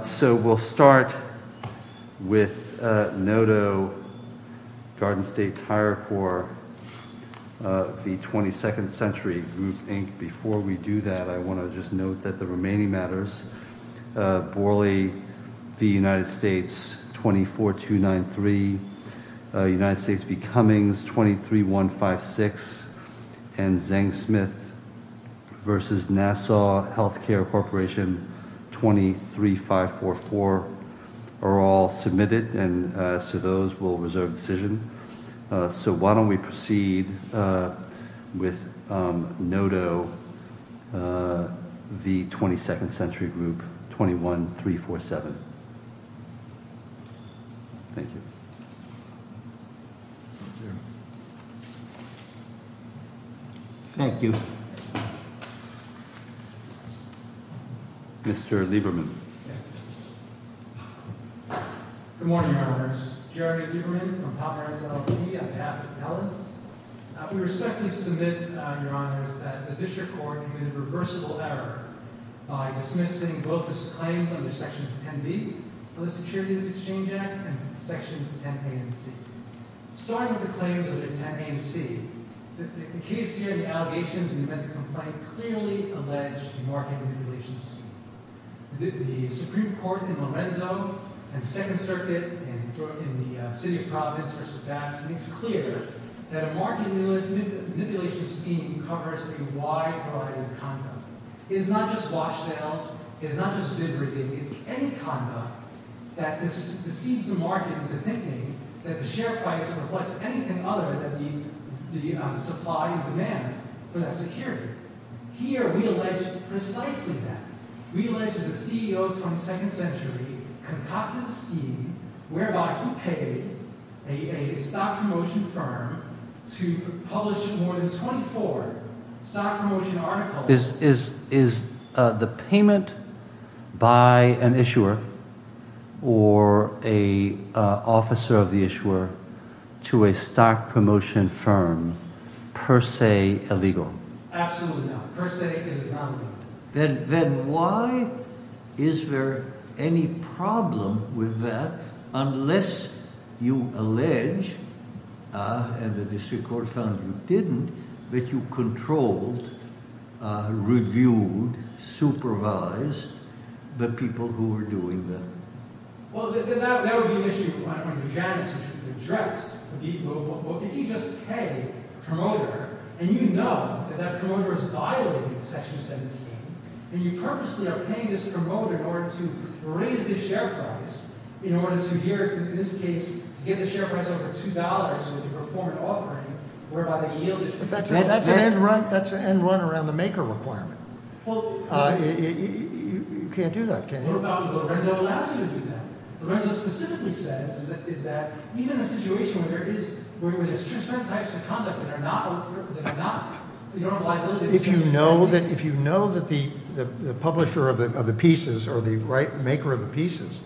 So we'll start with NOTO, Garden State Tire Corps v. 22nd Century Group, Inc. Before we do that, I want to just note that the remaining matters, Borley v. United States 24293, United States v. Cummings 23156, and Zeng-Smith v. Nassau Health Care Corporation 23544 are all submitted. And so those will reserve decision. So why don't we proceed with NOTO v. 22nd Century Group 21347. Thank you. Thank you. Mr. Lieberman. Good morning, Your Honors. Jerry Lieberman from Poplar House LLP on behalf of Pellitz. We respectfully submit, Your Honors, that the District Court committed a reversible error by dismissing both the claims under Sections 10b of the Securities Exchange Act and Sections 10a and 10c. Starting with the claims under 10a and 10c, the case here, the allegations in the event of complaint, clearly alleged market manipulation scheme. The Supreme Court in Lorenzo and the Second Circuit in the City of Providence v. Vance makes clear that a market manipulation scheme covers a wide variety of conduct. It's not just wash sales. It's not just bid review. It's any conduct that deceives the market into thinking that the share price reflects anything other than the supply and demand for that security. Here we allege precisely that. We allege that the CEO of 22nd Century concocted a scheme whereby he paid a stock promotion firm to publish more than 24 stock promotion articles. Is the payment by an issuer or an officer of the issuer to a stock promotion firm per se illegal? Absolutely not. Per se, it is not illegal. Then why is there any problem with that unless you allege, and the District Court found you didn't, that you controlled, reviewed, supervised the people who were doing that? Well, that would be an issue on your janitor's rejects. Well, if you just pay a promoter and you know that that promoter is violating Section 17, and you purposely are paying this promoter in order to raise the share price, in order to here, in this case, to get the share price over $2 with a performance offering, whereby the yield is $2. That's an end run around the maker requirement. You can't do that, can you? Well, Lorenzo allows you to do that. Lorenzo specifically says that even in a situation where there are certain types of conduct that are not, you don't have a liability. If you know that the publisher of the pieces or the maker of the pieces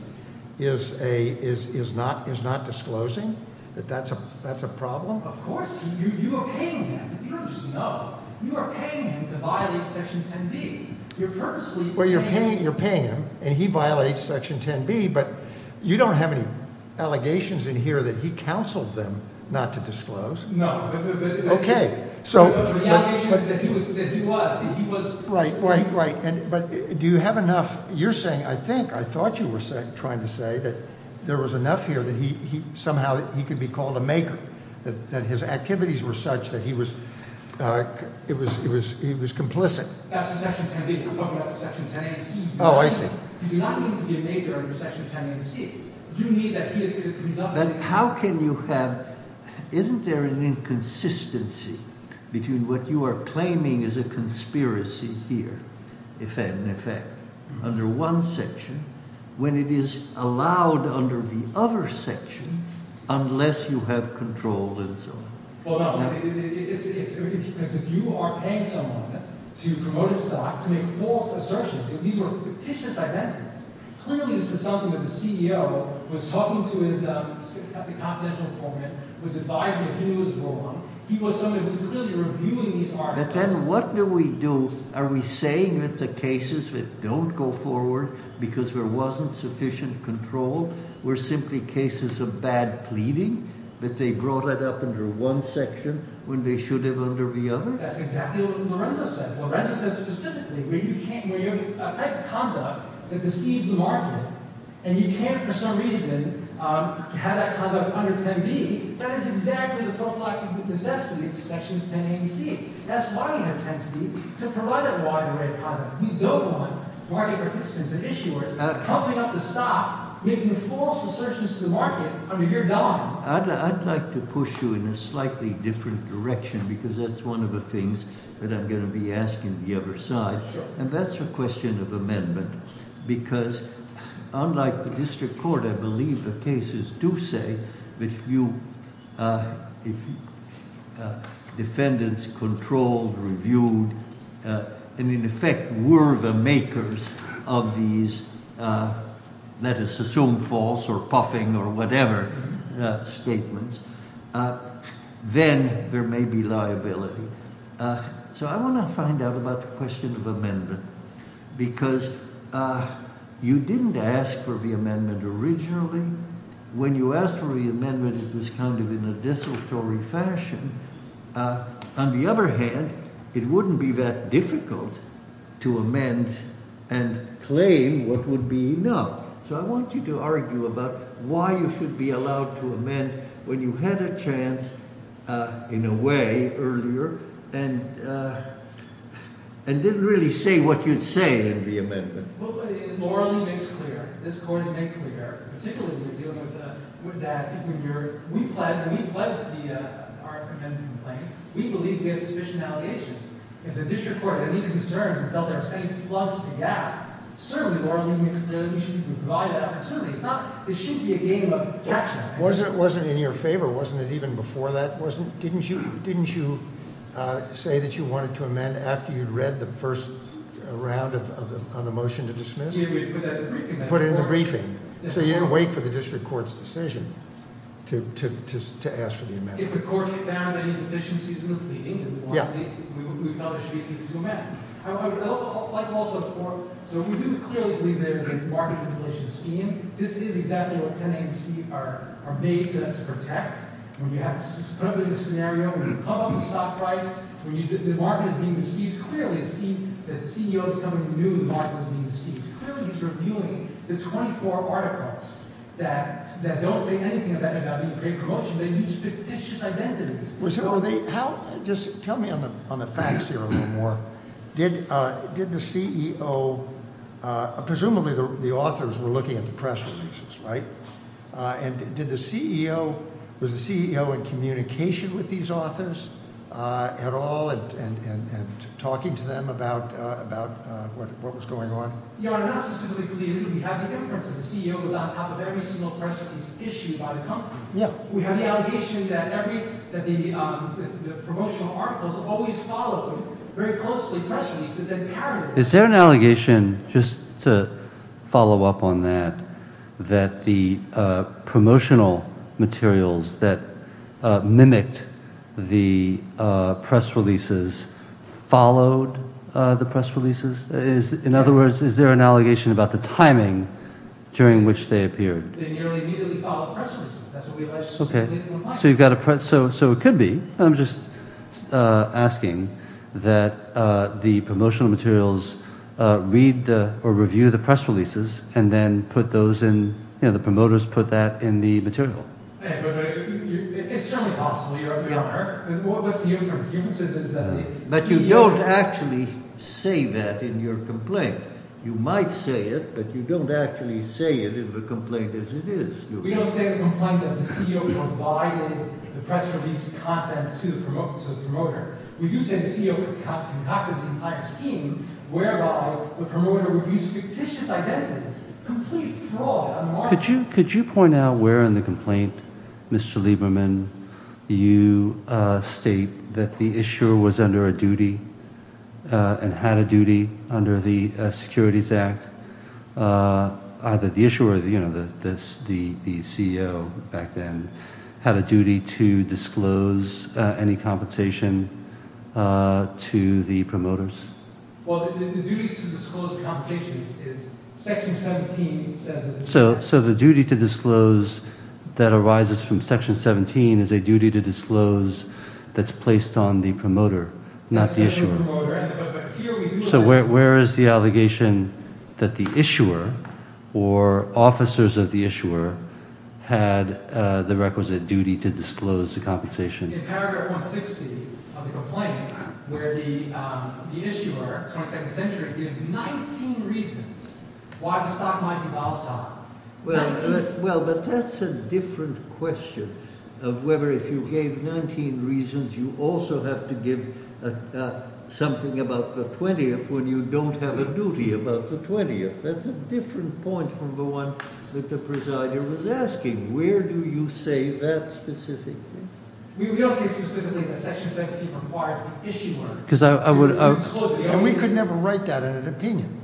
is not disclosing, that that's a problem? Of course. You are paying him. You don't just know. You are paying him to violate Section 10B. You're purposely paying him. Well, you're paying him, and he violates Section 10B, but you don't have any allegations in here that he counseled them not to disclose. No. Okay. The allegation is that he was. Right, right, right. But do you have enough? You're saying, I think, I thought you were trying to say that there was enough here that somehow he could be called a maker, that his activities were such that he was complicit. That's for Section 10B. You're talking about Section 10AC. Oh, I see. You do not need to be a maker under Section 10AC. You need that he is to be done. But how can you have, isn't there an inconsistency between what you are claiming is a conspiracy here, if any, under one section when it is allowed under the other section unless you have control and so on? Well, no, because if you are paying someone to promote a stock, to make false assertions, these were fictitious identities. Clearly, this is something that the CEO was talking to his confidential informant, was advising that he was wrong. He was someone who was clearly reviewing these articles. But then what do we do? Are we saying that the cases that don't go forward because there wasn't sufficient control were simply cases of bad pleading, that they brought that up under one section when they should have under the other? That's exactly what Lorenzo says. Lorenzo says specifically where you can't – where you have a type of conduct that deceives the market and you can't, for some reason, have that conduct under 10B, that is exactly the prophylactic necessity of Sections 10A and 10C. That's why you have 10C, to provide that wide array of product. You don't want market participants and issuers pumping up the stock, making false assertions to the market under your guise. I'd like to push you in a slightly different direction because that's one of the things that I'm going to be asking the other side, and that's the question of amendment because unlike the district court, I believe the cases do say that if defendants controlled, reviewed, and in effect were the makers of these, let us assume false or puffing or whatever statements, then there may be liability. So I want to find out about the question of amendment because you didn't ask for the amendment originally. When you asked for the amendment, it was kind of in a desultory fashion. On the other hand, it wouldn't be that difficult to amend and claim what would be enough. So I want you to argue about why you should be allowed to amend when you had a chance in a way earlier and didn't really say what you'd say in the amendment. Well, it morally makes clear, this Court has made clear, particularly when you're dealing with that, if we plead with the argument and the complaint, we believe we have sufficient allegations. If the district court had any concerns and felt there was any plugs to that, certainly morally makes it clear that we should provide that opportunity. It shouldn't be a game of captioning. Wasn't it in your favor? Wasn't it even before that? Didn't you say that you wanted to amend after you'd read the first round of the motion to dismiss? Yeah, we put that in the briefing. Put it in the briefing. So you didn't wait for the district court's decision to ask for the amendment. If the court found any deficiencies in the pleadings, we thought we should be able to amend. However, like also before, so we do clearly believe there's a market completion scheme. This is exactly what 10A and C are made to protect. When you have a scenario, when you come up with a stock price, when the market is being deceived, clearly the CEO is telling you the market is being deceived. Clearly he's reviewing the 24 articles that don't say anything about being a great promotion. They use fictitious identities. Just tell me on the facts here a little more. Did the CEO – presumably the authors were looking at the press releases, right? And did the CEO – was the CEO in communication with these authors at all and talking to them about what was going on? No, not specifically. We have the evidence that the CEO was on top of every single press release issued by the company. We have the allegation that the promotional articles always followed very closely press releases. Is there an allegation, just to follow up on that, that the promotional materials that mimicked the press releases followed the press releases? In other words, is there an allegation about the timing during which they appeared? They nearly immediately followed the press releases. That's what we allege. Okay. So you've got a – so it could be. I'm just asking that the promotional materials read or review the press releases and then put those in – you know, the promoters put that in the material. It's certainly possible, Your Honor. What's the inference? The inference is that the CEO – But you don't actually say that in your complaint. You might say it, but you don't actually say it in the complaint as it is. We don't say in the complaint that the CEO provided the press release contents to the promoter. We do say the CEO concocted an entire scheme whereby the promoter would use fictitious identities, complete fraud. Could you point out where in the complaint, Mr. Lieberman, you state that the issuer was under a duty and had a duty under the Securities Act? Either the issuer or the CEO back then had a duty to disclose any compensation to the promoters? Well, the duty to disclose the compensation is – Section 17 says – So the duty to disclose that arises from Section 17 is a duty to disclose that's placed on the promoter, not the issuer. So where is the allegation that the issuer or officers of the issuer had the requisite duty to disclose the compensation? In paragraph 160 of the complaint where the issuer, 22nd century, gives 19 reasons why the stock might be volatile. Well, but that's a different question of whether if you gave 19 reasons you also have to give something about the 20th when you don't have a duty about the 20th. That's a different point from the one that the presider was asking. Where do you say that specifically? We don't say specifically that Section 17 requires the issuer to disclose the – And we could never write that in an opinion,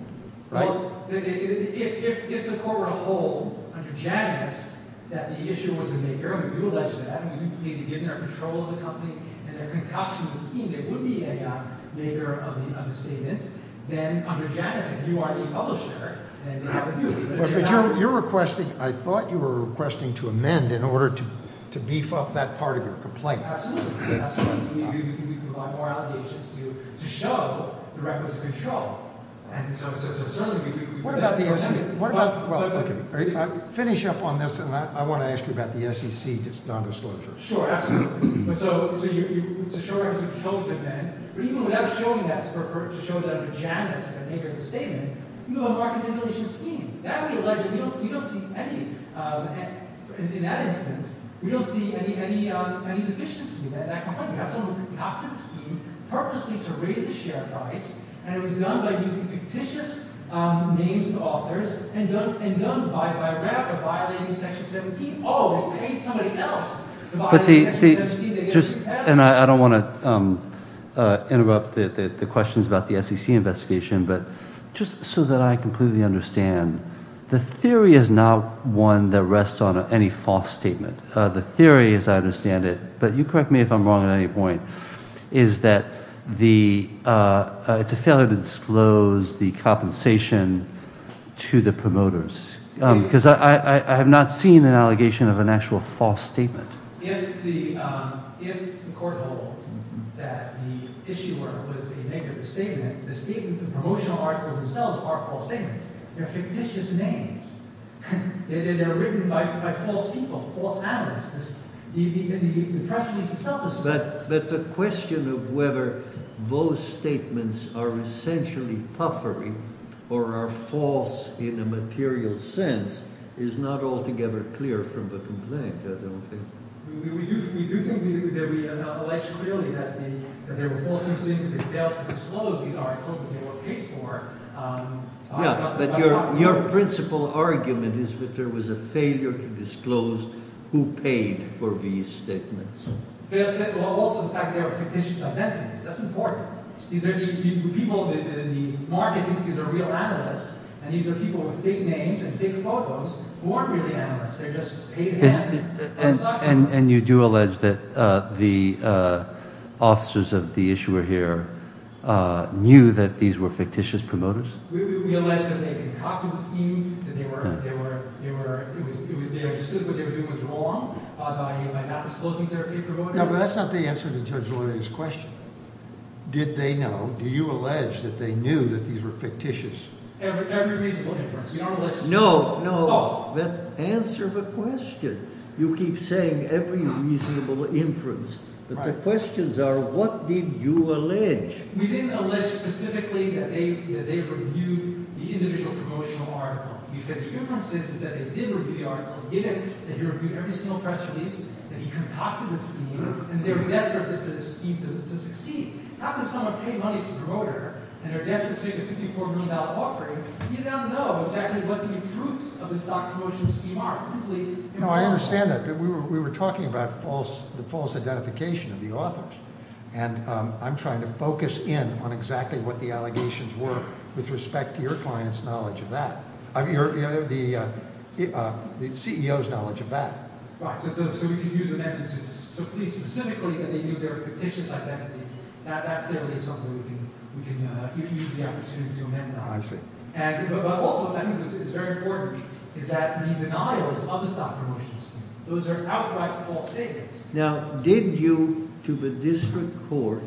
right? Well, if the court were to hold under Janus that the issuer was a maker, and we do allege that, and we do believe that given our control of the company and their concoction of the scheme, they would be a maker of the understatement, then under Janus if you are a publisher and they are a duty – But you're requesting – I thought you were requesting to amend in order to beef up that part of your complaint. Absolutely, absolutely. We can provide more allegations to you to show the requisite control. And so – What about the SEC? What about – well, okay. Finish up on this, and I want to ask you about the SEC non-disclosure. Sure, absolutely. But so you – so sure, it's a controlled event. But even without showing that – to show that under Janus, a maker of the statement, you have a market manipulation scheme. Now we allege that we don't see any – in that instance, we don't see any deficiency in that complaint. We have someone who concocted the scheme purposely to raise the share price, and it was done by using fictitious names of authors and done by rather violating Section 17. But the – just – and I don't want to interrupt the questions about the SEC investigation, but just so that I completely understand, the theory is not one that rests on any false statement. The theory, as I understand it – but you correct me if I'm wrong at any point – is that the – it's a failure to disclose the compensation to the promoters. Because I have not seen an allegation of an actual false statement. If the – if the court holds that the issuer was a maker of the statement, the statement – the promotional articles themselves are false statements. They're fictitious names. They're written by false people, false analysts. The press release itself is false. But the question of whether those statements are essentially puffery or are false in a material sense is not altogether clear from the complaint, I don't think. Yeah, but your principal argument is that there was a failure to disclose who paid for these statements. That's important. These are the people – the market thinks these are real analysts, and these are people with fake names and fake photos who aren't really analysts. They're just paid hands. And you do allege that the officers of the issuer here knew that these were fictitious promoters? We allege that they concocted the scheme, that they were – they understood what they were doing was wrong by not disclosing they were paid promoters. No, but that's not the answer to Judge Olenek's question. Did they know? Do you allege that they knew that these were fictitious? Every reasonable inference. We don't allege – No, no. Answer the question. You keep saying every reasonable inference. But the questions are what did you allege? We didn't allege specifically that they reviewed the individual promotional article. We said if you're consistent that they did review the articles, that he reviewed every single press release, that he concocted the scheme, and they were desperate for the scheme to succeed, how can someone pay money to a promoter and they're desperate to make a $54 million offering if you don't know exactly what the fruits of the stock promotion scheme are? It's simply impossible. No, I understand that. We were talking about the false identification of the authors, and I'm trying to focus in on exactly what the allegations were with respect to your client's knowledge of that. The CEO's knowledge of that. Right. So we can use amendments specifically that they knew they were fictitious identities. That clearly is something we can use the opportunity to amend now. I see. But also, I think this is very important, is that the denial is unstoppable. Those are outright false statements. Now, did you, to the district court,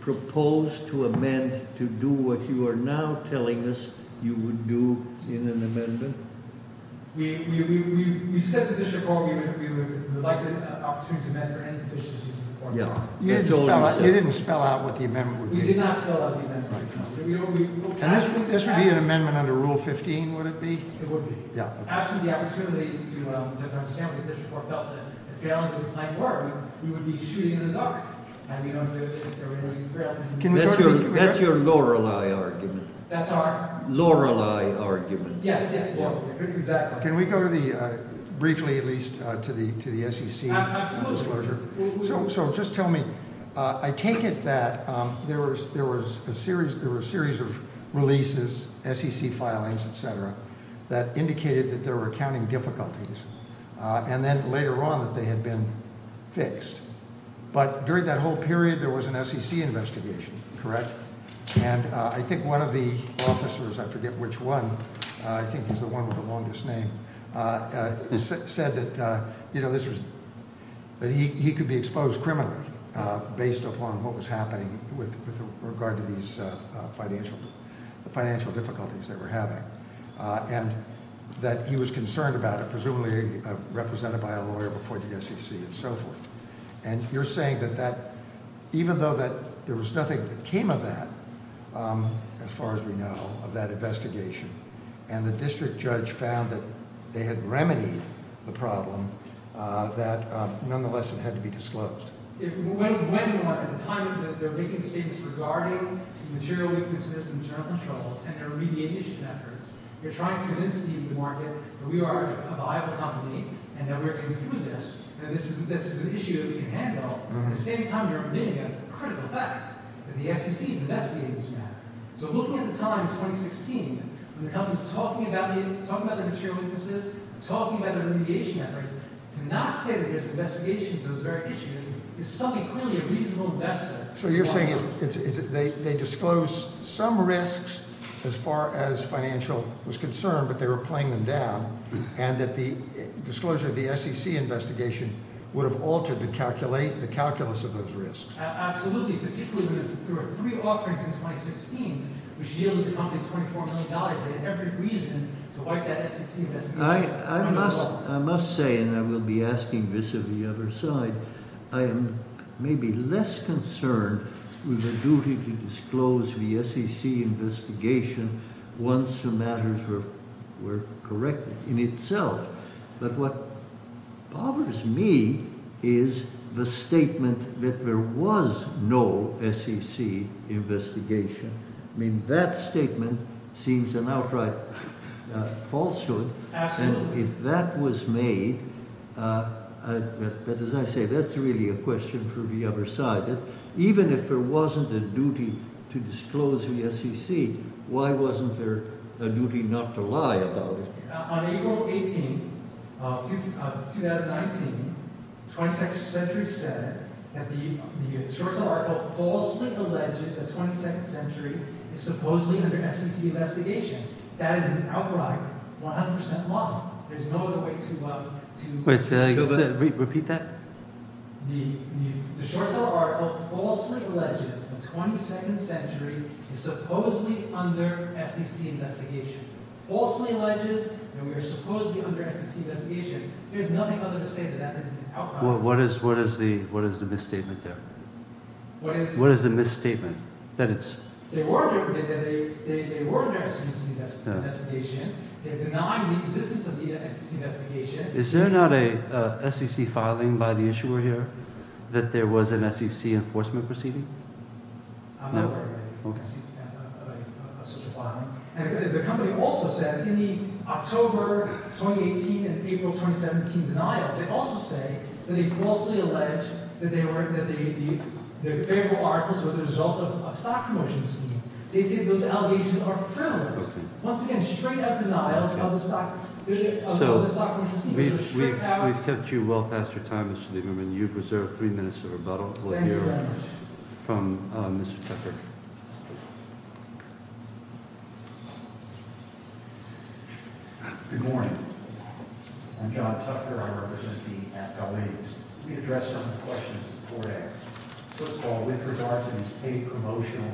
propose to amend to do what you are now telling us you would do in an amendment? We said to the district court we would like an opportunity to amend for any deficiencies in the court documents. You didn't spell out what the amendment would be. We did not spell out the amendment. And this would be an amendment under Rule 15, would it be? It would be. Yeah. As I understand it, the district court felt that if the allegations of the client were, we would be shooting in the dark. That's your Lorelei argument. That's our? Lorelei argument. Yes, yes. Exactly. Can we go briefly, at least, to the SEC disclosure? Absolutely. So just tell me, I take it that there was a series of releases, SEC filings, et cetera, that indicated that there were accounting difficulties, and then later on that they had been fixed. But during that whole period, there was an SEC investigation, correct? And I think one of the officers, I forget which one, I think he's the one with the longest name, said that he could be exposed criminally based upon what was happening with regard to these financial difficulties that we're having. And that he was concerned about it, presumably represented by a lawyer before the SEC and so forth. And you're saying that even though there was nothing that came of that, as far as we know, of that investigation, and the district judge found that they had remedied the problem, that nonetheless it had to be disclosed. It went more at the time that they're making statements regarding material weaknesses and internal controls, and their remediation efforts, they're trying to convince the market that we are a viable company, and that we're going through this, and this is an issue that we can handle. At the same time, they're admitting a critical fact, that the SEC is investigating this matter. So looking at the time, 2016, when the company's talking about the material weaknesses, talking about the remediation efforts, to not say that there's investigation of those very issues is something clearly a reasonable investment. So you're saying they disclosed some risks as far as financial was concerned, but they were playing them down, and that the disclosure of the SEC investigation would have altered the calculus of those risks? Absolutely, particularly when there were three offerings in 2016, which yielded the company $24 million, and every reason to fight that SEC investigation. I must say, and I will be asking this of the other side, I am maybe less concerned with the duty to disclose the SEC investigation once the matters were corrected in itself. But what bothers me is the statement that there was no SEC investigation. I mean, that statement seems an outright falsehood. Absolutely. And if that was made, as I say, that's really a question for the other side. Even if there wasn't a duty to disclose the SEC, why wasn't there a duty not to lie about it? On April 18, 2019, 22nd Century said that the short-sell article falsely alleges that 22nd Century is supposedly under SEC investigation. That is an outright 100% lie. There's no other way to— Wait, repeat that? The short-sell article falsely alleges that 22nd Century is supposedly under SEC investigation. Falsely alleges that we are supposedly under SEC investigation. There's nothing other to say that that is the outcome. What is the misstatement there? What is the— What is the misstatement that it's— They were under SEC investigation. They denied the existence of the SEC investigation. Is there not a SEC filing by the issuer here that there was an SEC enforcement proceeding? No. And the company also says in the October 2018 and April 2017 denials, they also say that they falsely allege that the favorable articles were the result of a stock promotion scheme. They say those allegations are frivolous. Once again, straight-up denials of the stock— So, we've kept you well past your time, Mr. Lieberman. You've reserved three minutes of rebuttal here from Mr. Tucker. Thank you very much. Thank you. Good morning. Good morning. I'm John Tucker. I represent the at-large. Let me address some of the questions before that. First of all, with regards to these paid promotional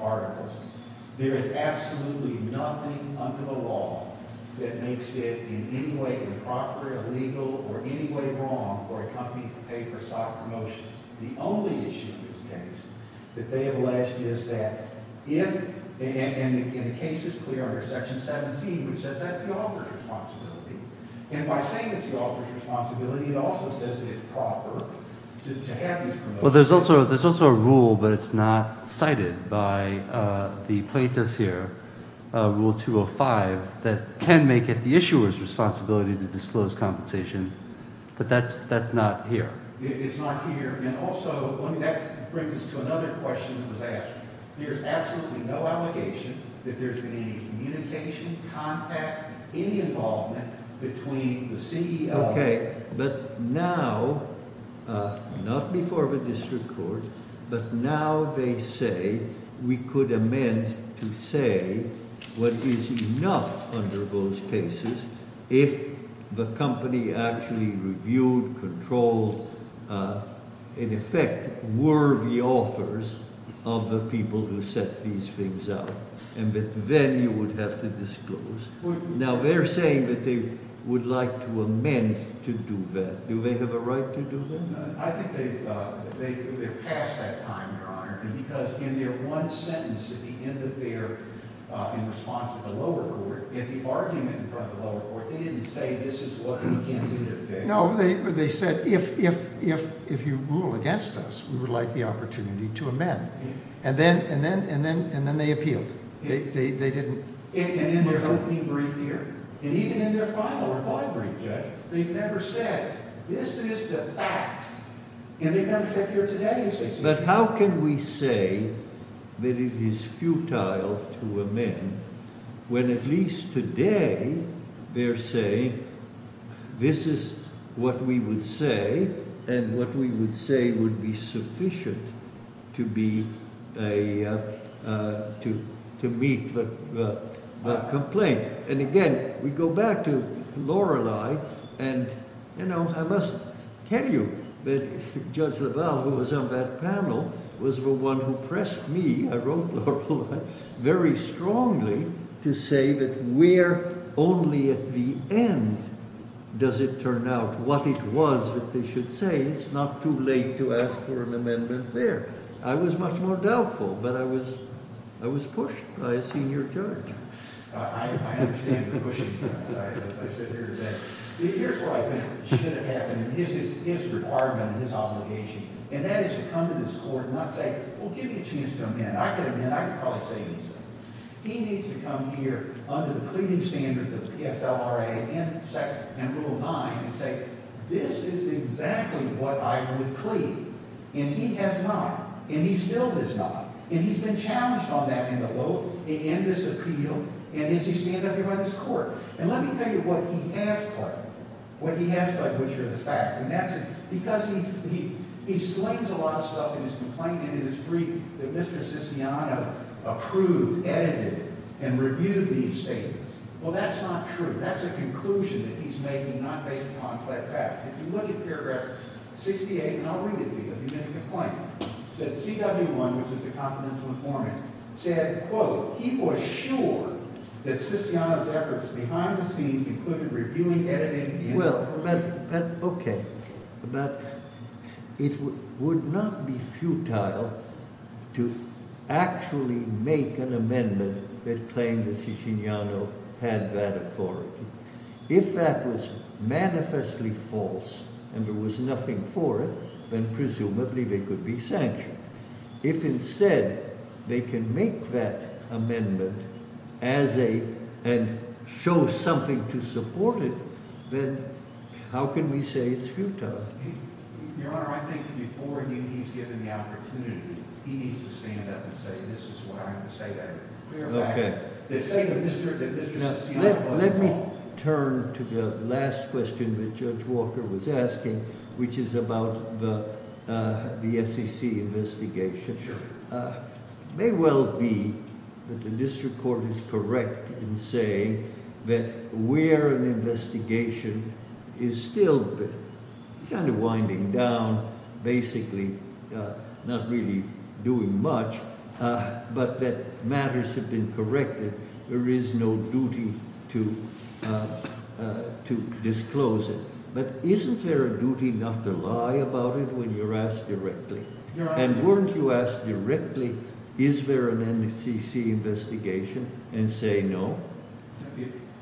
articles, there is absolutely nothing under the law that makes it in any way improper, illegal, or any way wrong for a company to pay for stock promotions. The only issue in this case that they have alleged is that if—and the case is clear under Section 17, which says that's the author's responsibility. And by saying it's the author's responsibility, it also says it's proper to have these promotions. Well, there's also a rule, but it's not cited by the plaintiffs here, Rule 205, that can make it the issuer's responsibility to disclose compensation. But that's not here. It's not here. And also, that brings us to another question that was asked. There's absolutely no allegation that there's been any communication, contact, any involvement between the CEO— But now they say we could amend to say what is enough under those cases if the company actually reviewed, controlled, in effect, were the authors of the people who set these things up. And then you would have to disclose. Now, they're saying that they would like to amend to do that. Do they have a right to do that? I think they've passed that time, Your Honor, because in their one sentence at the end of their—in response to the lower court, in the argument in front of the lower court, they didn't say this is what we can do today. No, they said if you rule against us, we would like the opportunity to amend. And then they appealed. They didn't— And in their opening brief here. And even in their final reply brief, they've never said this is the fact. And they've never said here today. But how can we say that it is futile to amend when at least today they're saying this is what we would say and what we would say would be sufficient to be a—to meet the complaint? And again, we go back to Lorelei and, you know, I must tell you that Judge LaValle, who was on that panel, was the one who pressed me—I wrote Lorelei—very strongly to say that where only at the end does it turn out what it was that they should say. It's not too late to ask for an amendment there. I was much more doubtful, but I was pushed by a senior judge. I understand the pushing. I sit here today. Here's where I think it should have happened. This is his requirement and his obligation, and that is to come to this court and not say, well, give me a chance to amend. I can amend. I can probably say these things. He needs to come here under the cleaning standards of the PSLRA and Rule 9 and say this is exactly what I would plead. And he has not. And he still does not. And he's been challenged on that in the vote, in this appeal, and as he stands up here on this court. And let me tell you what he asked for, what he asked for, which are the facts. And that's because he slings a lot of stuff in his complaint and in his brief that Mr. Siciano approved, edited, and reviewed these statements. Well, that's not true. That's a conclusion that he's making, not based upon fact. If you look at paragraph 68, and I'll read it to you. He made a complaint. He said CW1, which is the confidential informant, said, quote, he was sure that Siciano's efforts behind the scenes included reviewing, editing, and reviewing. Well, but okay. But it would not be futile to actually make an amendment that claims that Siciano had that authority. If that was manifestly false and there was nothing for it, then presumably they could be sanctioned. If instead they can make that amendment as a, and show something to support it, then how can we say it's futile? Your Honor, I think before he's given the opportunity, he needs to stand up and say, this is what I'm going to say. Okay. Now, let me turn to the last question that Judge Walker was asking, which is about the SEC investigation. It may well be that the district court is correct in saying that where an investigation is still kind of winding down, basically not really doing much, but that matters have been corrected. There is no duty to disclose it. But isn't there a duty not to lie about it when you're asked directly? And weren't you asked directly, is there an NCC investigation, and say no?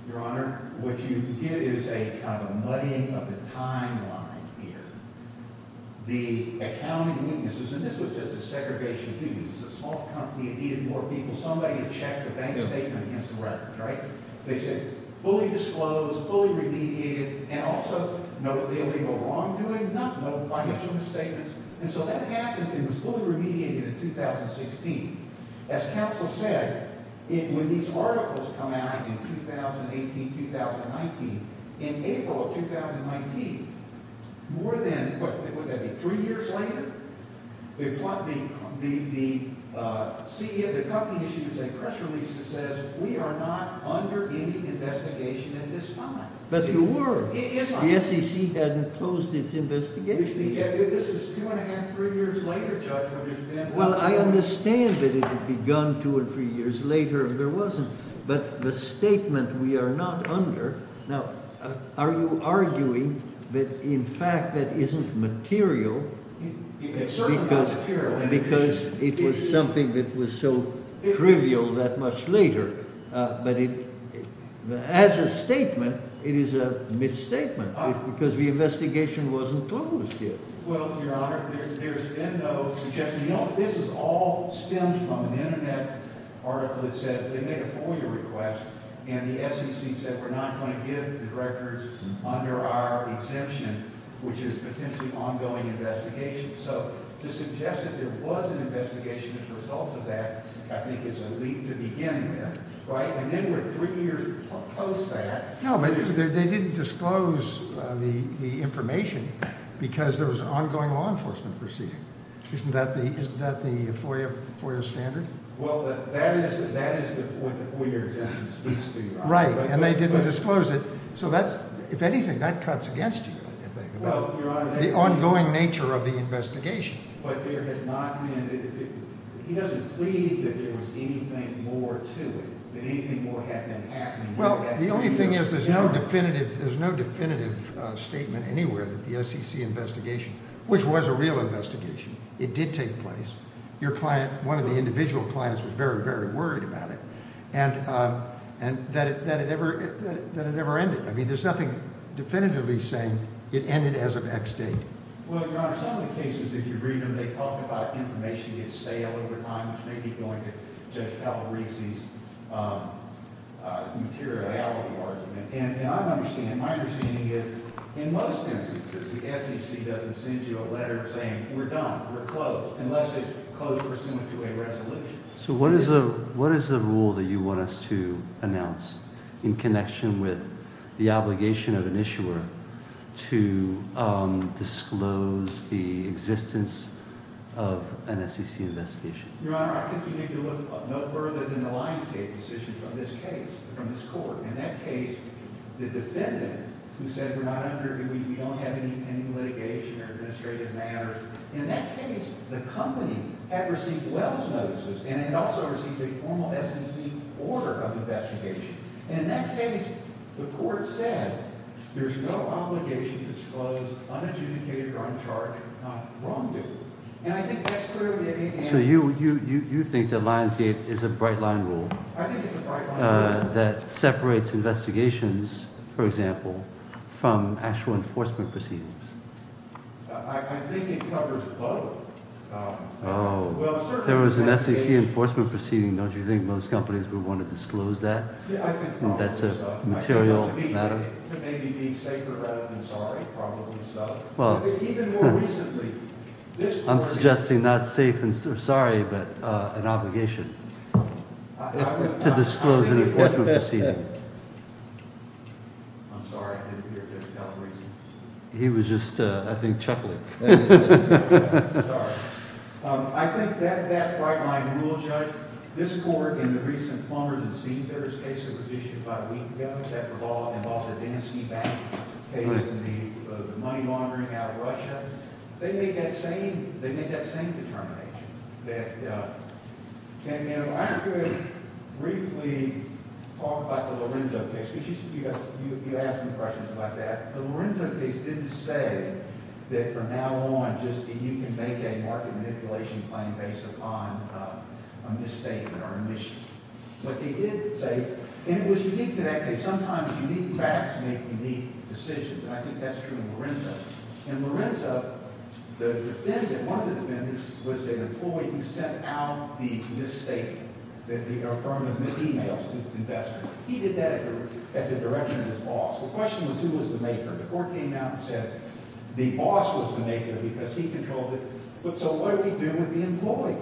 Your Honor, what you did is a kind of muddying of the timeline here. The accounting weaknesses, and this was just a segregation of duties. It's a small company. It needed more people. Somebody had checked the bank statement against the record, right? They said fully disclosed, fully remediated, and also no illegal wrongdoing, not no financial misstatements. And so that happened, and it was fully remediated in 2016. As counsel said, when these articles come out in 2018, 2019, in April of 2019, more than, what would that be, three years later, the CEO of the company issued a press release that says we are not under any investigation at this time. But you were. Yes, I was. The SEC hadn't closed its investigation. This is two and a half, three years later, Judge. Well, I understand that it had begun two and three years later and there wasn't, but the statement we are not under, now, are you arguing that in fact that isn't material? It's certainly not material. Because it was something that was so trivial that much later. But as a statement, it is a misstatement because the investigation wasn't closed yet. Well, Your Honor, there's been no suggestion. You know, this all stems from an internet article that says they made a FOIA request and the SEC said we're not going to give the records under our exemption, which is potentially ongoing investigation. So, to suggest that there was an investigation as a result of that, I think, is a leap to begin with. Right? And then we're three years post that. No, but they didn't disclose the information because there was ongoing law enforcement proceeding. Isn't that the FOIA standard? Well, that is the point that FOIA exemption speaks to. Right. And they didn't disclose it. So that's, if anything, that cuts against you, I think. Well, Your Honor. The ongoing nature of the investigation. But there has not been, he doesn't plead that there was anything more to it, that anything more had been happening. Well, the only thing is there's no definitive statement anywhere that the SEC investigation, which was a real investigation, it did take place. Your client, one of the individual clients, was very, very worried about it. And that it never ended. I mean, there's nothing definitively saying it ended as of X date. Well, Your Honor, some of the cases, if you read them, they talk about information getting stale over time, which may be going to Judge Calabrese's materiality argument. And my understanding is, in most instances, the SEC doesn't send you a letter saying we're done, we're closed, unless it's closed pursuant to a resolution. So what is the rule that you want us to announce in connection with the obligation of an issuer to disclose the existence of an SEC investigation? Your Honor, I think you need to look no further than the Lionsgate decision from this case, from this court. In that case, the defendant, who said we're not under, we don't have any litigation or administrative matters. In that case, the company had received Wells notices and had also received a formal SEC order of investigation. And in that case, the court said there's no obligation to disclose unadjudicated or uncharged, not wrongdoing. And I think that's clearly a— So you think that Lionsgate is a bright-line rule? I think it's a bright-line rule. That separates investigations, for example, from actual enforcement proceedings? I think it covers both. Oh. Well, certainly— If there was an SEC enforcement proceeding, don't you think most companies would want to disclose that? Yeah, I think probably so. That's a material matter? To maybe be safer rather than sorry, probably so. Well— Even more recently, this court— I'm suggesting not safe and sorry, but an obligation to disclose an enforcement proceeding. I'm sorry, I didn't hear you. He was just, I think, chuckling. Sorry. I think that bright-line rule, Judge, this court in the recent Plumbers and Speakers case that was issued about a week ago, that revolved involving the Deninsky Bank case and the money laundering out of Russia, they made that same determination. I could briefly talk about the Lorenzo case, because you asked some questions about that. The Lorenzo case didn't say that from now on, just that you can make a market manipulation claim based upon a mistake or an issue. But they did say—and it was unique to that case. Sometimes unique facts make unique decisions, and I think that's true in Lorenzo. In Lorenzo, the defendant, one of the defendants, was an employee. He sent out the misstatement that the firm had missed emails to its investor. He did that at the direction of his boss. The question was who was the maker. The court came out and said the boss was the maker because he controlled it. But so what do we do with the employee?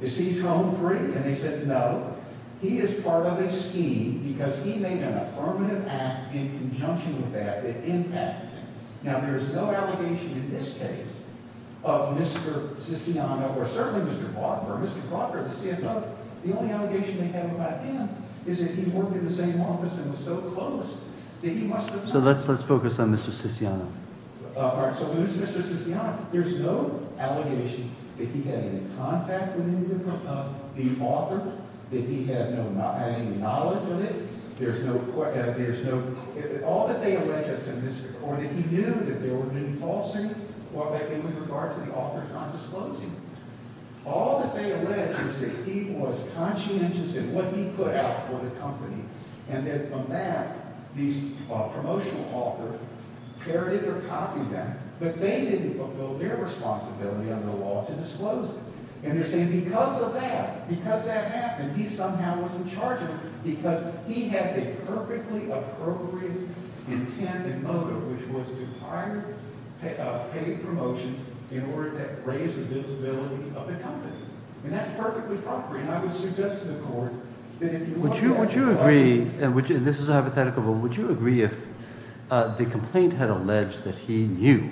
Is he home free? And they said no. He is part of a scheme because he made an affirmative act in conjunction with that, the impact. Now, there is no allegation in this case of Mr. Siciano or certainly Mr. Crawford. Mr. Crawford is a stand-up. The only allegation they have about him is that he worked in the same office and was so close that he must have— So let's focus on Mr. Siciano. All right. So who's Mr. Siciano? There's no allegation that he had any contact with any of the author, that he had any knowledge of it. There's no—all that they allege of Mr. Cornyn, he knew that there would be falsing in regard to the author trying to disclose him. All that they allege is that he was conscientious in what he put out for the company, and that from that, the promotional author parodied or copied that, but they didn't fulfill their responsibility under the law to disclose him. And they're saying because of that, because that happened, and he somehow was in charge of it because he had a perfectly appropriate intent and motive, which was to hire a paid promotion in order to raise the visibility of the company. And that's perfectly appropriate. And I would suggest to the court that if you want to— Would you agree, and this is a hypothetical, but would you agree if the complaint had alleged that he knew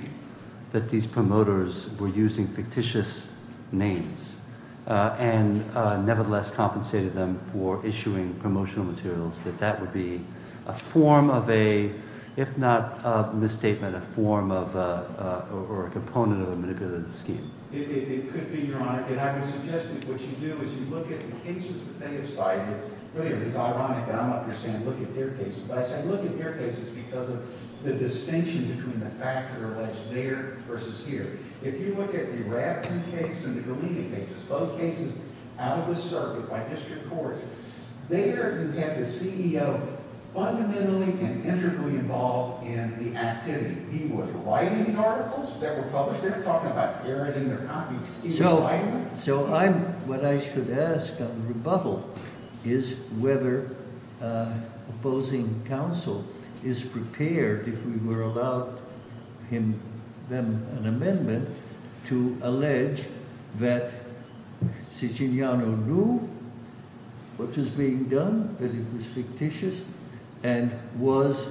that these promoters were using fictitious names and nevertheless compensated them for issuing promotional materials, that that would be a form of a—if not a misstatement, a form of or a component of a manipulative scheme? It could be, Your Honor. And I would suggest that what you do is you look at the cases that they have cited. Clearly, it's ironic that I'm up here saying look at their cases, but I say look at their cases because of the distinction between the facts that are alleged there versus here. If you look at the Radcliffe case and the Galini case, both cases out of the circuit by district court, there you have the CEO fundamentally and intricately involved in the activity. He was writing these articles that were published. They were talking about airing their copy. He was writing them. So I'm—what I should ask of the rebuttal is whether opposing counsel is prepared, if we were allowed an amendment, to allege that Siciliano knew what was being done, that it was fictitious, and was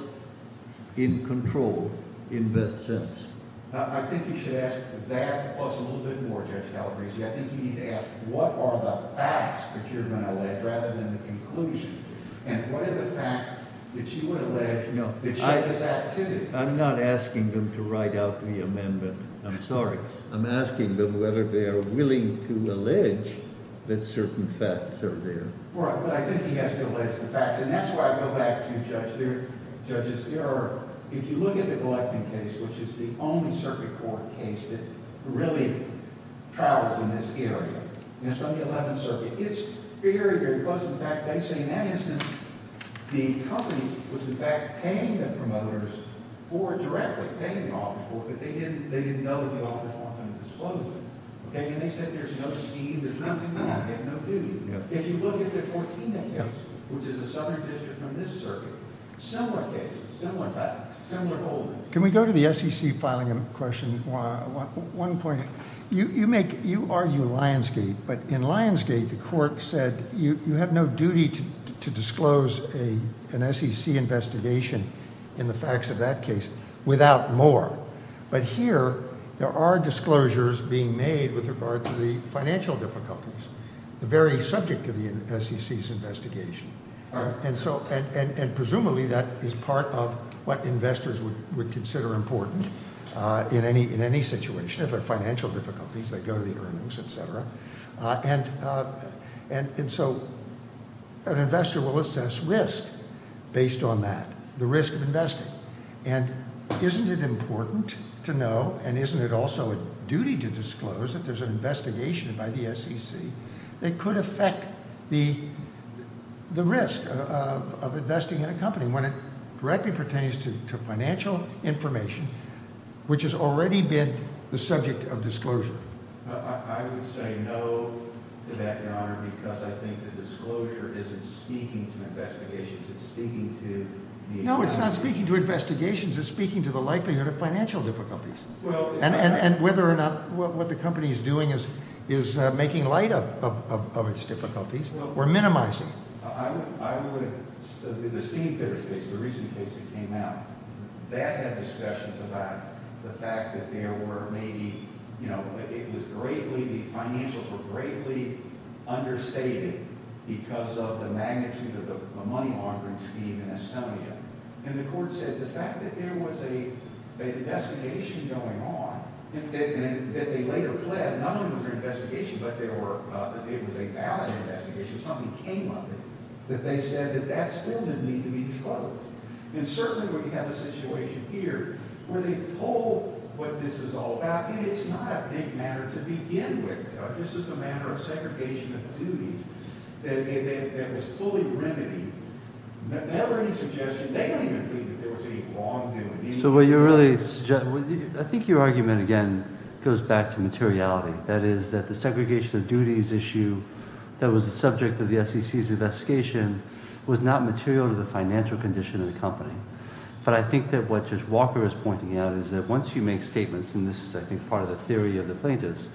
in control in that sense. I think you should ask that plus a little bit more, Judge Calabresi. I think you need to ask what are the facts that you're going to allege rather than the conclusion, and what are the facts that you would allege that show this activity? I'm not asking them to write out the amendment. I'm sorry. I'm asking them whether they are willing to allege that certain facts are there. All right. But I think he has to allege the facts, and that's where I go back to Judge's error. If you look at the Gleickman case, which is the only circuit court case that really travels in this area, and it's from the 11th Circuit, it's very, very close. In fact, they say in that instance the company was, in fact, paying the promoters for it directly, paying an offer for it, but they didn't know that the offer wasn't going to disclose it. Okay? And they said there's no scheme. There's nothing there. They have no duty. If you look at the Cortina case, which is a southern district from this circuit, similar case, similar fact, similar holdings. Can we go to the SEC filing question? One point. You argue Lionsgate, but in Lionsgate the court said you have no duty to disclose an SEC investigation in the facts of that case without more. But here there are disclosures being made with regard to the financial difficulties, the very subject of the SEC's investigation, and presumably that is part of what investors would consider important in any situation. If there are financial difficulties, they go to the earnings, et cetera. And so an investor will assess risk based on that, the risk of investing. And isn't it important to know and isn't it also a duty to disclose that there's an investigation by the SEC that could affect the risk of investing in a company when it directly pertains to financial information, which has already been the subject of disclosure? I would say no to that, Your Honor, because I think the disclosure isn't speaking to investigations. It's speaking to the- No, it's not speaking to investigations. It's speaking to the likelihood of financial difficulties. And whether or not what the company is doing is making light of its difficulties. We're minimizing. I would- the Steemfitters case, the recent case that came out, that had discussions about the fact that there were maybe- it was greatly- the financials were greatly understated because of the magnitude of the money laundering scheme in Estonia. And the court said the fact that there was a designation going on that they later pled, not only was it an investigation, but it was a valid investigation, something came of it, that they said that that still didn't need to be disclosed. And certainly we have a situation here where they told what this is all about, and it's not a big matter to begin with, just as a matter of segregation of duty, that was fully remedied. They don't have any suggestion- they don't even believe that there was any wrongdoing. So what you're really- I think your argument, again, goes back to materiality. That is that the segregation of duties issue that was the subject of the SEC's investigation was not material to the financial condition of the company. But I think that what Judge Walker is pointing out is that once you make statements, and this is, I think, part of the theory of the plaintiff's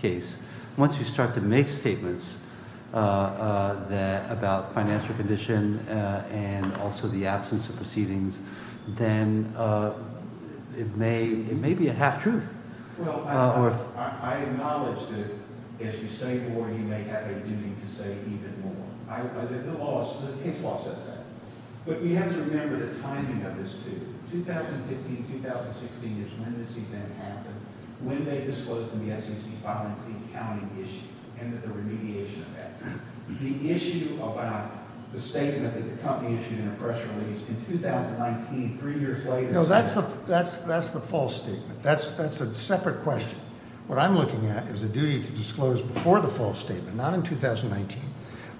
case, once you start to make statements about financial condition and also the absence of proceedings, then it may be a half-truth. Well, I acknowledge that as you say more, you may have a duty to say even more. The case law says that. But we have to remember the timing of this, too. 2015-2016 is when this event happened, when they disclosed in the SEC filing the accounting issue and the remediation of that. The issue about the statement that the company issued in a press release in 2019, three years later- No, that's the false statement. That's a separate question. What I'm looking at is a duty to disclose before the false statement, not in 2019,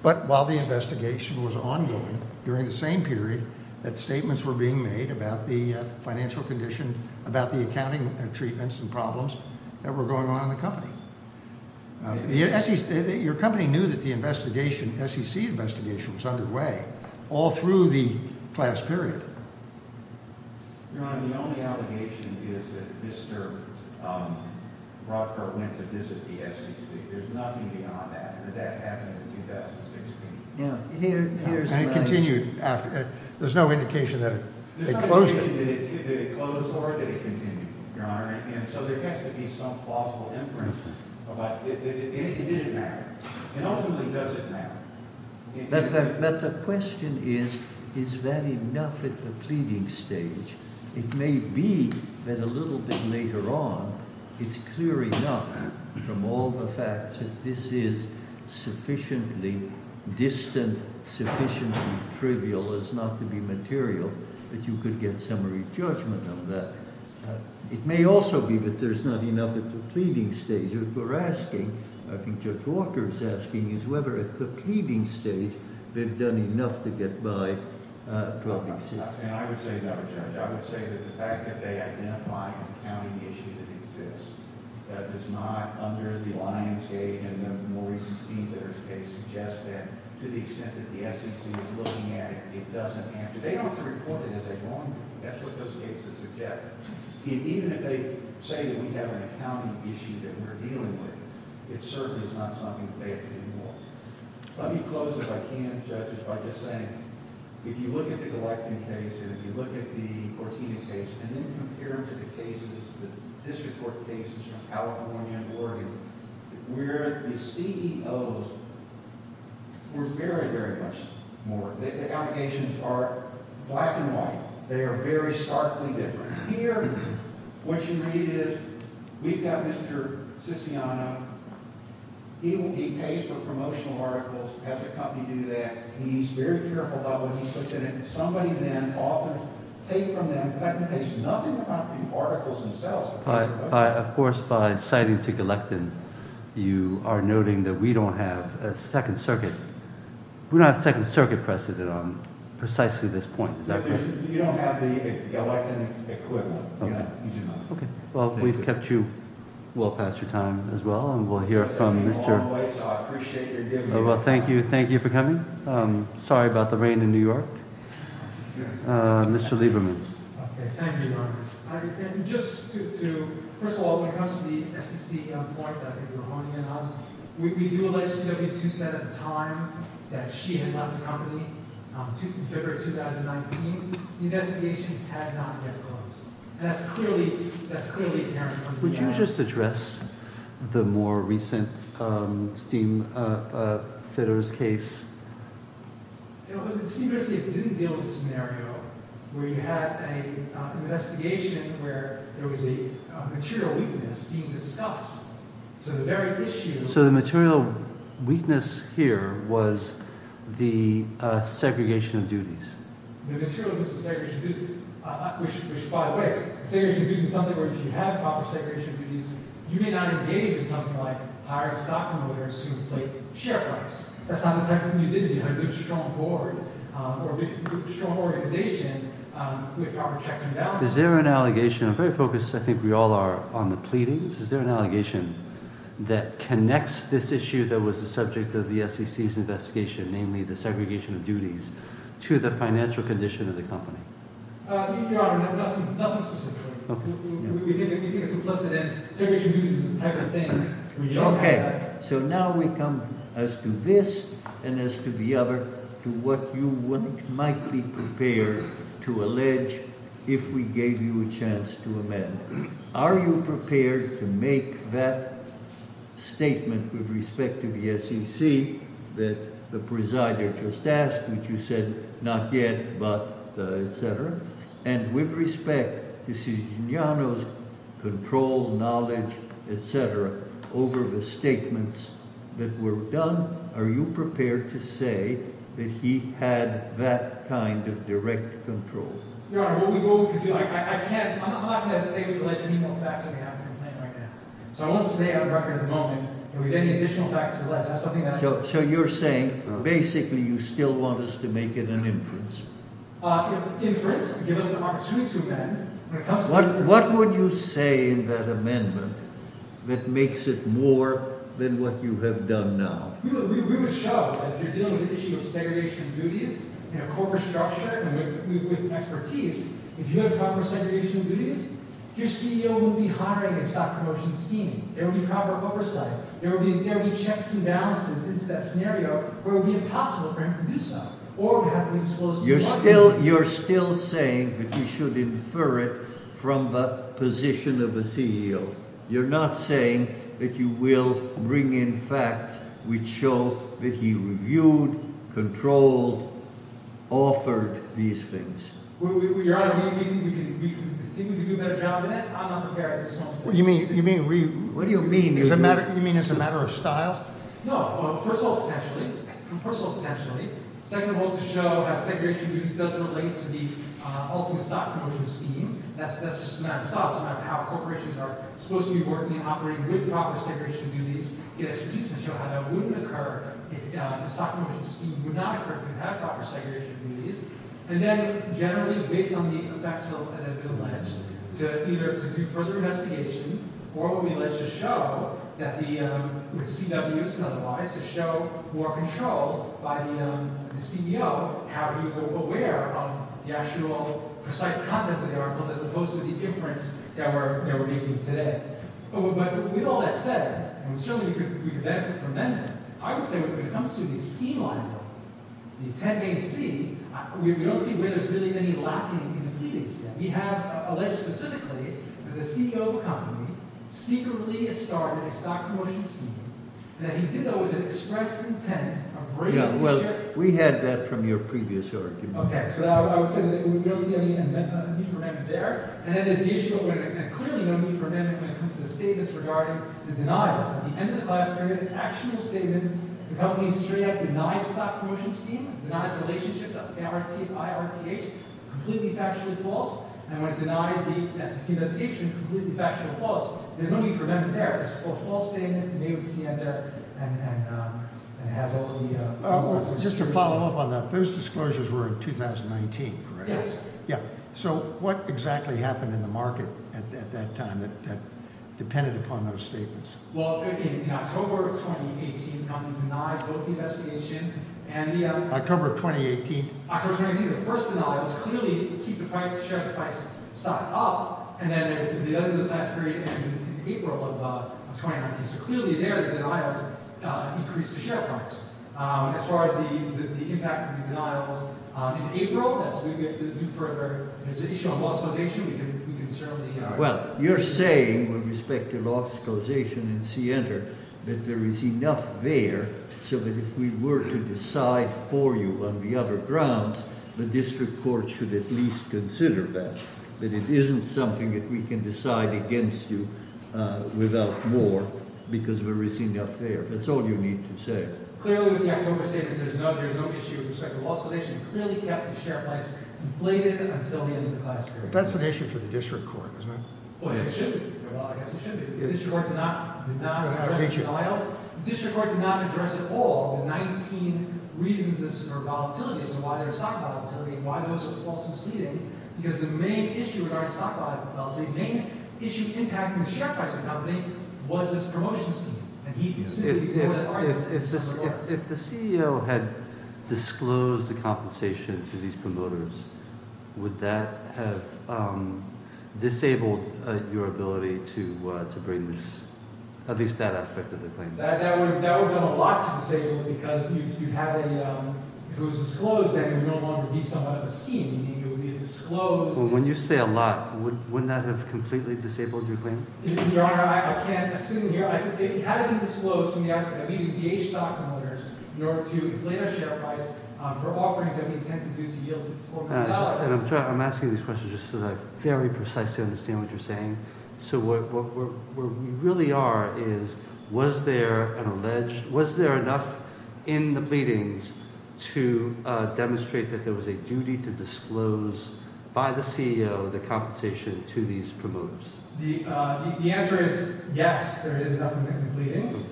but while the investigation was ongoing during the same period that statements were being made about the financial condition, about the accounting treatments and problems that were going on in the company. Your company knew that the SEC investigation was underway all through the class period. Your Honor, the only allegation is that Mr. Rockford went to visit the SEC. There's nothing beyond that. That happened in 2016. And it continued after. There's no indication that it closed it. There's no indication that it closed or that it continued, Your Honor. And so there has to be some plausible inference. It didn't matter. It ultimately doesn't matter. But the question is, is that enough at the pleading stage? It may be that a little bit later on, it's clear enough from all the facts that this is sufficiently distant, sufficiently trivial as not to be material, that you could get summary judgment on that. It may also be that there's not enough at the pleading stage. What we're asking, I think Judge Walker is asking, is whether at the pleading stage they've done enough to get by 2016. And I would say no, Judge. I would say that the fact that they identify an accounting issue that exists that is not under the Lionsgate and the more recent Steamletters case suggests that to the extent that the SEC is looking at it, it doesn't answer. They don't have to report it. As they go on, that's what those cases suggest. Even if they say that we have an accounting issue that we're dealing with, it certainly is not something that they have to do more. Let me close, if I can, Judge, by just saying, if you look at the Glecton case and if you look at the Cortina case and then compare them to the cases, the district court cases from California and Oregon, where the CEOs were very, very much more. The allegations are black and white. They are very starkly different. Here, what you read is we've got Mr. Sissiano. He pays for promotional articles. Has a company do that. He's very careful about what he puts in it. Somebody then often take from them, technically there's nothing about these articles themselves. Of course, by citing to Glecton, you are noting that we don't have a second circuit. We don't have a second circuit precedent on precisely this point. Is that correct? You don't have the Glecton equivalent. Okay. Well, we've kept you well past your time as well, and we'll hear from Mr. I appreciate your giving. Well, thank you. Thank you for coming. Sorry about the rain in New York. Mr. Lieberman. Okay. Thank you. Just to, first of all, when it comes to the SEC point that we were honing in on, we do allege CW2 said at the time that she had left the company in February 2019. The investigation had not yet closed. And that's clearly, that's clearly apparent. Would you just address the more recent steam fitters case? You know, it didn't deal with the scenario where you had a investigation where there was a material weakness being discussed. So the very issue. So the material weakness here was the segregation of duties. Which by the way, say you're using something where if you have proper segregation of duties, you may not engage in something like hiring stockholders to inflate share rights. That's not the type of thing you did. You had a good, strong board or a big strong organization with our checks and balances. Is there an allegation? I'm very focused. I think we all are on the pleadings. Is there an allegation that connects this issue? That was the subject of the SEC's investigation, namely the segregation of duties to the financial condition of the company? Nothing. Nothing specific. Okay. Okay. So now we come. As to this and as to the other, to what you wouldn't might be prepared to allege. If we gave you a chance to amend, are you prepared to make that statement with respect to the SEC? That the presider just asked, which you said not yet, but the et cetera. And with respect, you see, Control knowledge, et cetera. Over the statements that were done. Are you prepared to say that he had that kind of direct control? So you're saying basically you still want us to make it an inference. Give us an opportunity to amend. What would you say in that amendment that makes it more than what you have done now? We would show that you're dealing with the issue of segregation of duties and a corporate structure with expertise. If you have proper segregation of duties, your CEO will be hiring a stock promotion scheme. There will be proper oversight. There will be checks and balances. It's that scenario where it would be impossible for him to do so, You're still, you're still saying that you should infer it from the position of the CEO. You're not saying that you will bring in facts. We chose that. He reviewed controlled. Offered these things. You mean, you mean, what do you mean? You mean as a matter of style? No. First of all, potentially personal, potentially second of all, to show how segregation of duties doesn't relate to the ultimate stock promotion scheme. That's, that's just a matter of style. It's a matter of how corporations are supposed to be working and operating with proper segregation of duties, get expertise, and show how that wouldn't occur if the stock promotion scheme would not occur if you have proper segregation of duties. And then generally based on the facts that have been alleged to either to do further investigation, or when we alleged to show that the CWs and otherwise to show more control by the CEO, how he was aware of the actual precise content of the article, as opposed to the inference that we're making today. But with all that said, certainly we could benefit from them. I would say when it comes to the scheme line, the 10 A and C, we don't see where there's really been any lacking in the meetings yet. We have alleged specifically that the CEO of a company secretly started a stock promotion scheme, and that he did that with an express intent of raising the share. Yeah, well, we had that from your previous argument. Okay. So I would say that we don't see any need for amendments there. And then there's the issue where there's clearly no need for amendments when it comes to the statements regarding the denials. At the end of the class period, the actual statements, the company straight up denies the stock promotion scheme, denies the relationship to IRTH, completely factually false. And when it denies the investigation, completely factually false. There's no need for amendments there. It's a false statement, and they would stand up and have all the... Just to follow up on that, those disclosures were in 2019, correct? Yes. Yeah. So what exactly happened in the market at that time that depended upon those statements? Well, in October of 2018, the company denies both the investigation and the... October of 2018? October of 2018, the first denial was clearly keep the price, share the price stock up. And then at the end of the class period, in April of 2019. So clearly there, the denials increased the share price. As far as the impact of the denials in April, that's where we have to do further investigation on law exclusation. We can certainly... Well, you're saying, with respect to law exclusation in CNR, that there is enough there so that if we were to decide for you on the other grounds, the district court should at least consider that. That it isn't something that we can decide against you without more because we're receiving enough there. That's all you need to say. Clearly with the October statement, it says, no, there's no issue with respect to law exclusion. Clearly kept the share price inflated until the end of the class period. That's an issue for the district court, isn't it? Well, I guess it should be. Well, I guess it should be. The district court did not express denial. The district court did not address at all 19 reasons for volatilities and why there's stock volatility and why those are all succeeding because the main issue regarding stock volatility, the main issue impacting the share price of the company, was this promotion scheme. If the CEO had disclosed the compensation to these promoters, would that have disabled your ability to bring this, at least that aspect of the claim? That would have done a lot to disable it because if it was disclosed, then it would no longer be somewhat of a scheme. It would be disclosed. Well, when you say a lot, wouldn't that have completely disabled your claim? Your Honor, I can't assume here. It had to be disclosed from the outset. We engaged stock promoters in order to inflate our share price for offerings that we intend to do to yield more value. I'm asking these questions just so that I very precisely understand what you're saying. What we really are is, was there enough in the pleadings to demonstrate that there was a duty to disclose by the CEO the compensation to these promoters? The answer is yes, there is enough in the pleadings.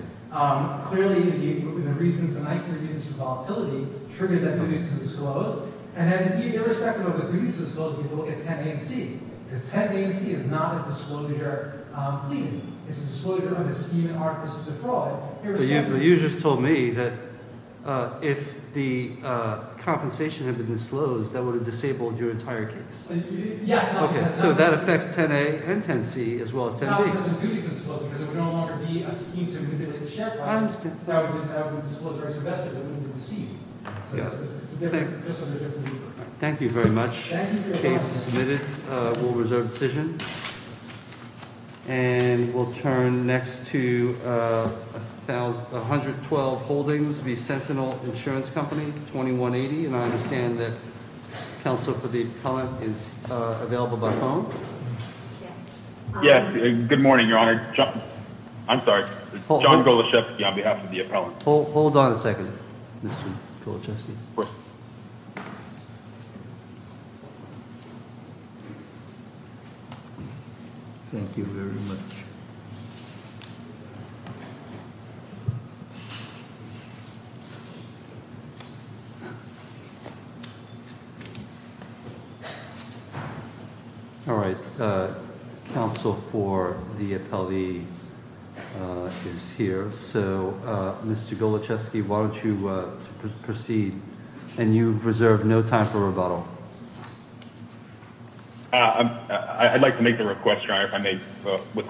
Clearly, the reasons, the 19 reasons for volatility, triggers that duty to disclose. Then irrespective of the duty to disclose, because 10A and 10C is not a disclosure deed. It's a disclosure of a scheme in art versus a fraud. But you just told me that if the compensation had been disclosed, that would have disabled your entire case. Yes. Okay, so that affects 10A and 10C as well as 10B. No, because the duty is disclosed because it would no longer be a scheme to inflate the share price. I understand. That would have been disclosed to investors that wouldn't have been seen. Thank you very much. The case is submitted. We'll reserve decision. And we'll turn next to 112 Holdings v. Sentinel Insurance Company, 2180. And I understand that counsel for the appellant is available by phone. Yes. Good morning, Your Honor. I'm sorry. John Goloszewski on behalf of the appellant. Hold on a second, Mr. Goloszewski. What? Thank you very much. All right. Counsel for the appellee is here. So, Mr. Goloszewski, why don't you proceed? And you've reserved no time for rebuttal. I'd like to make the request, Your Honor, if I may.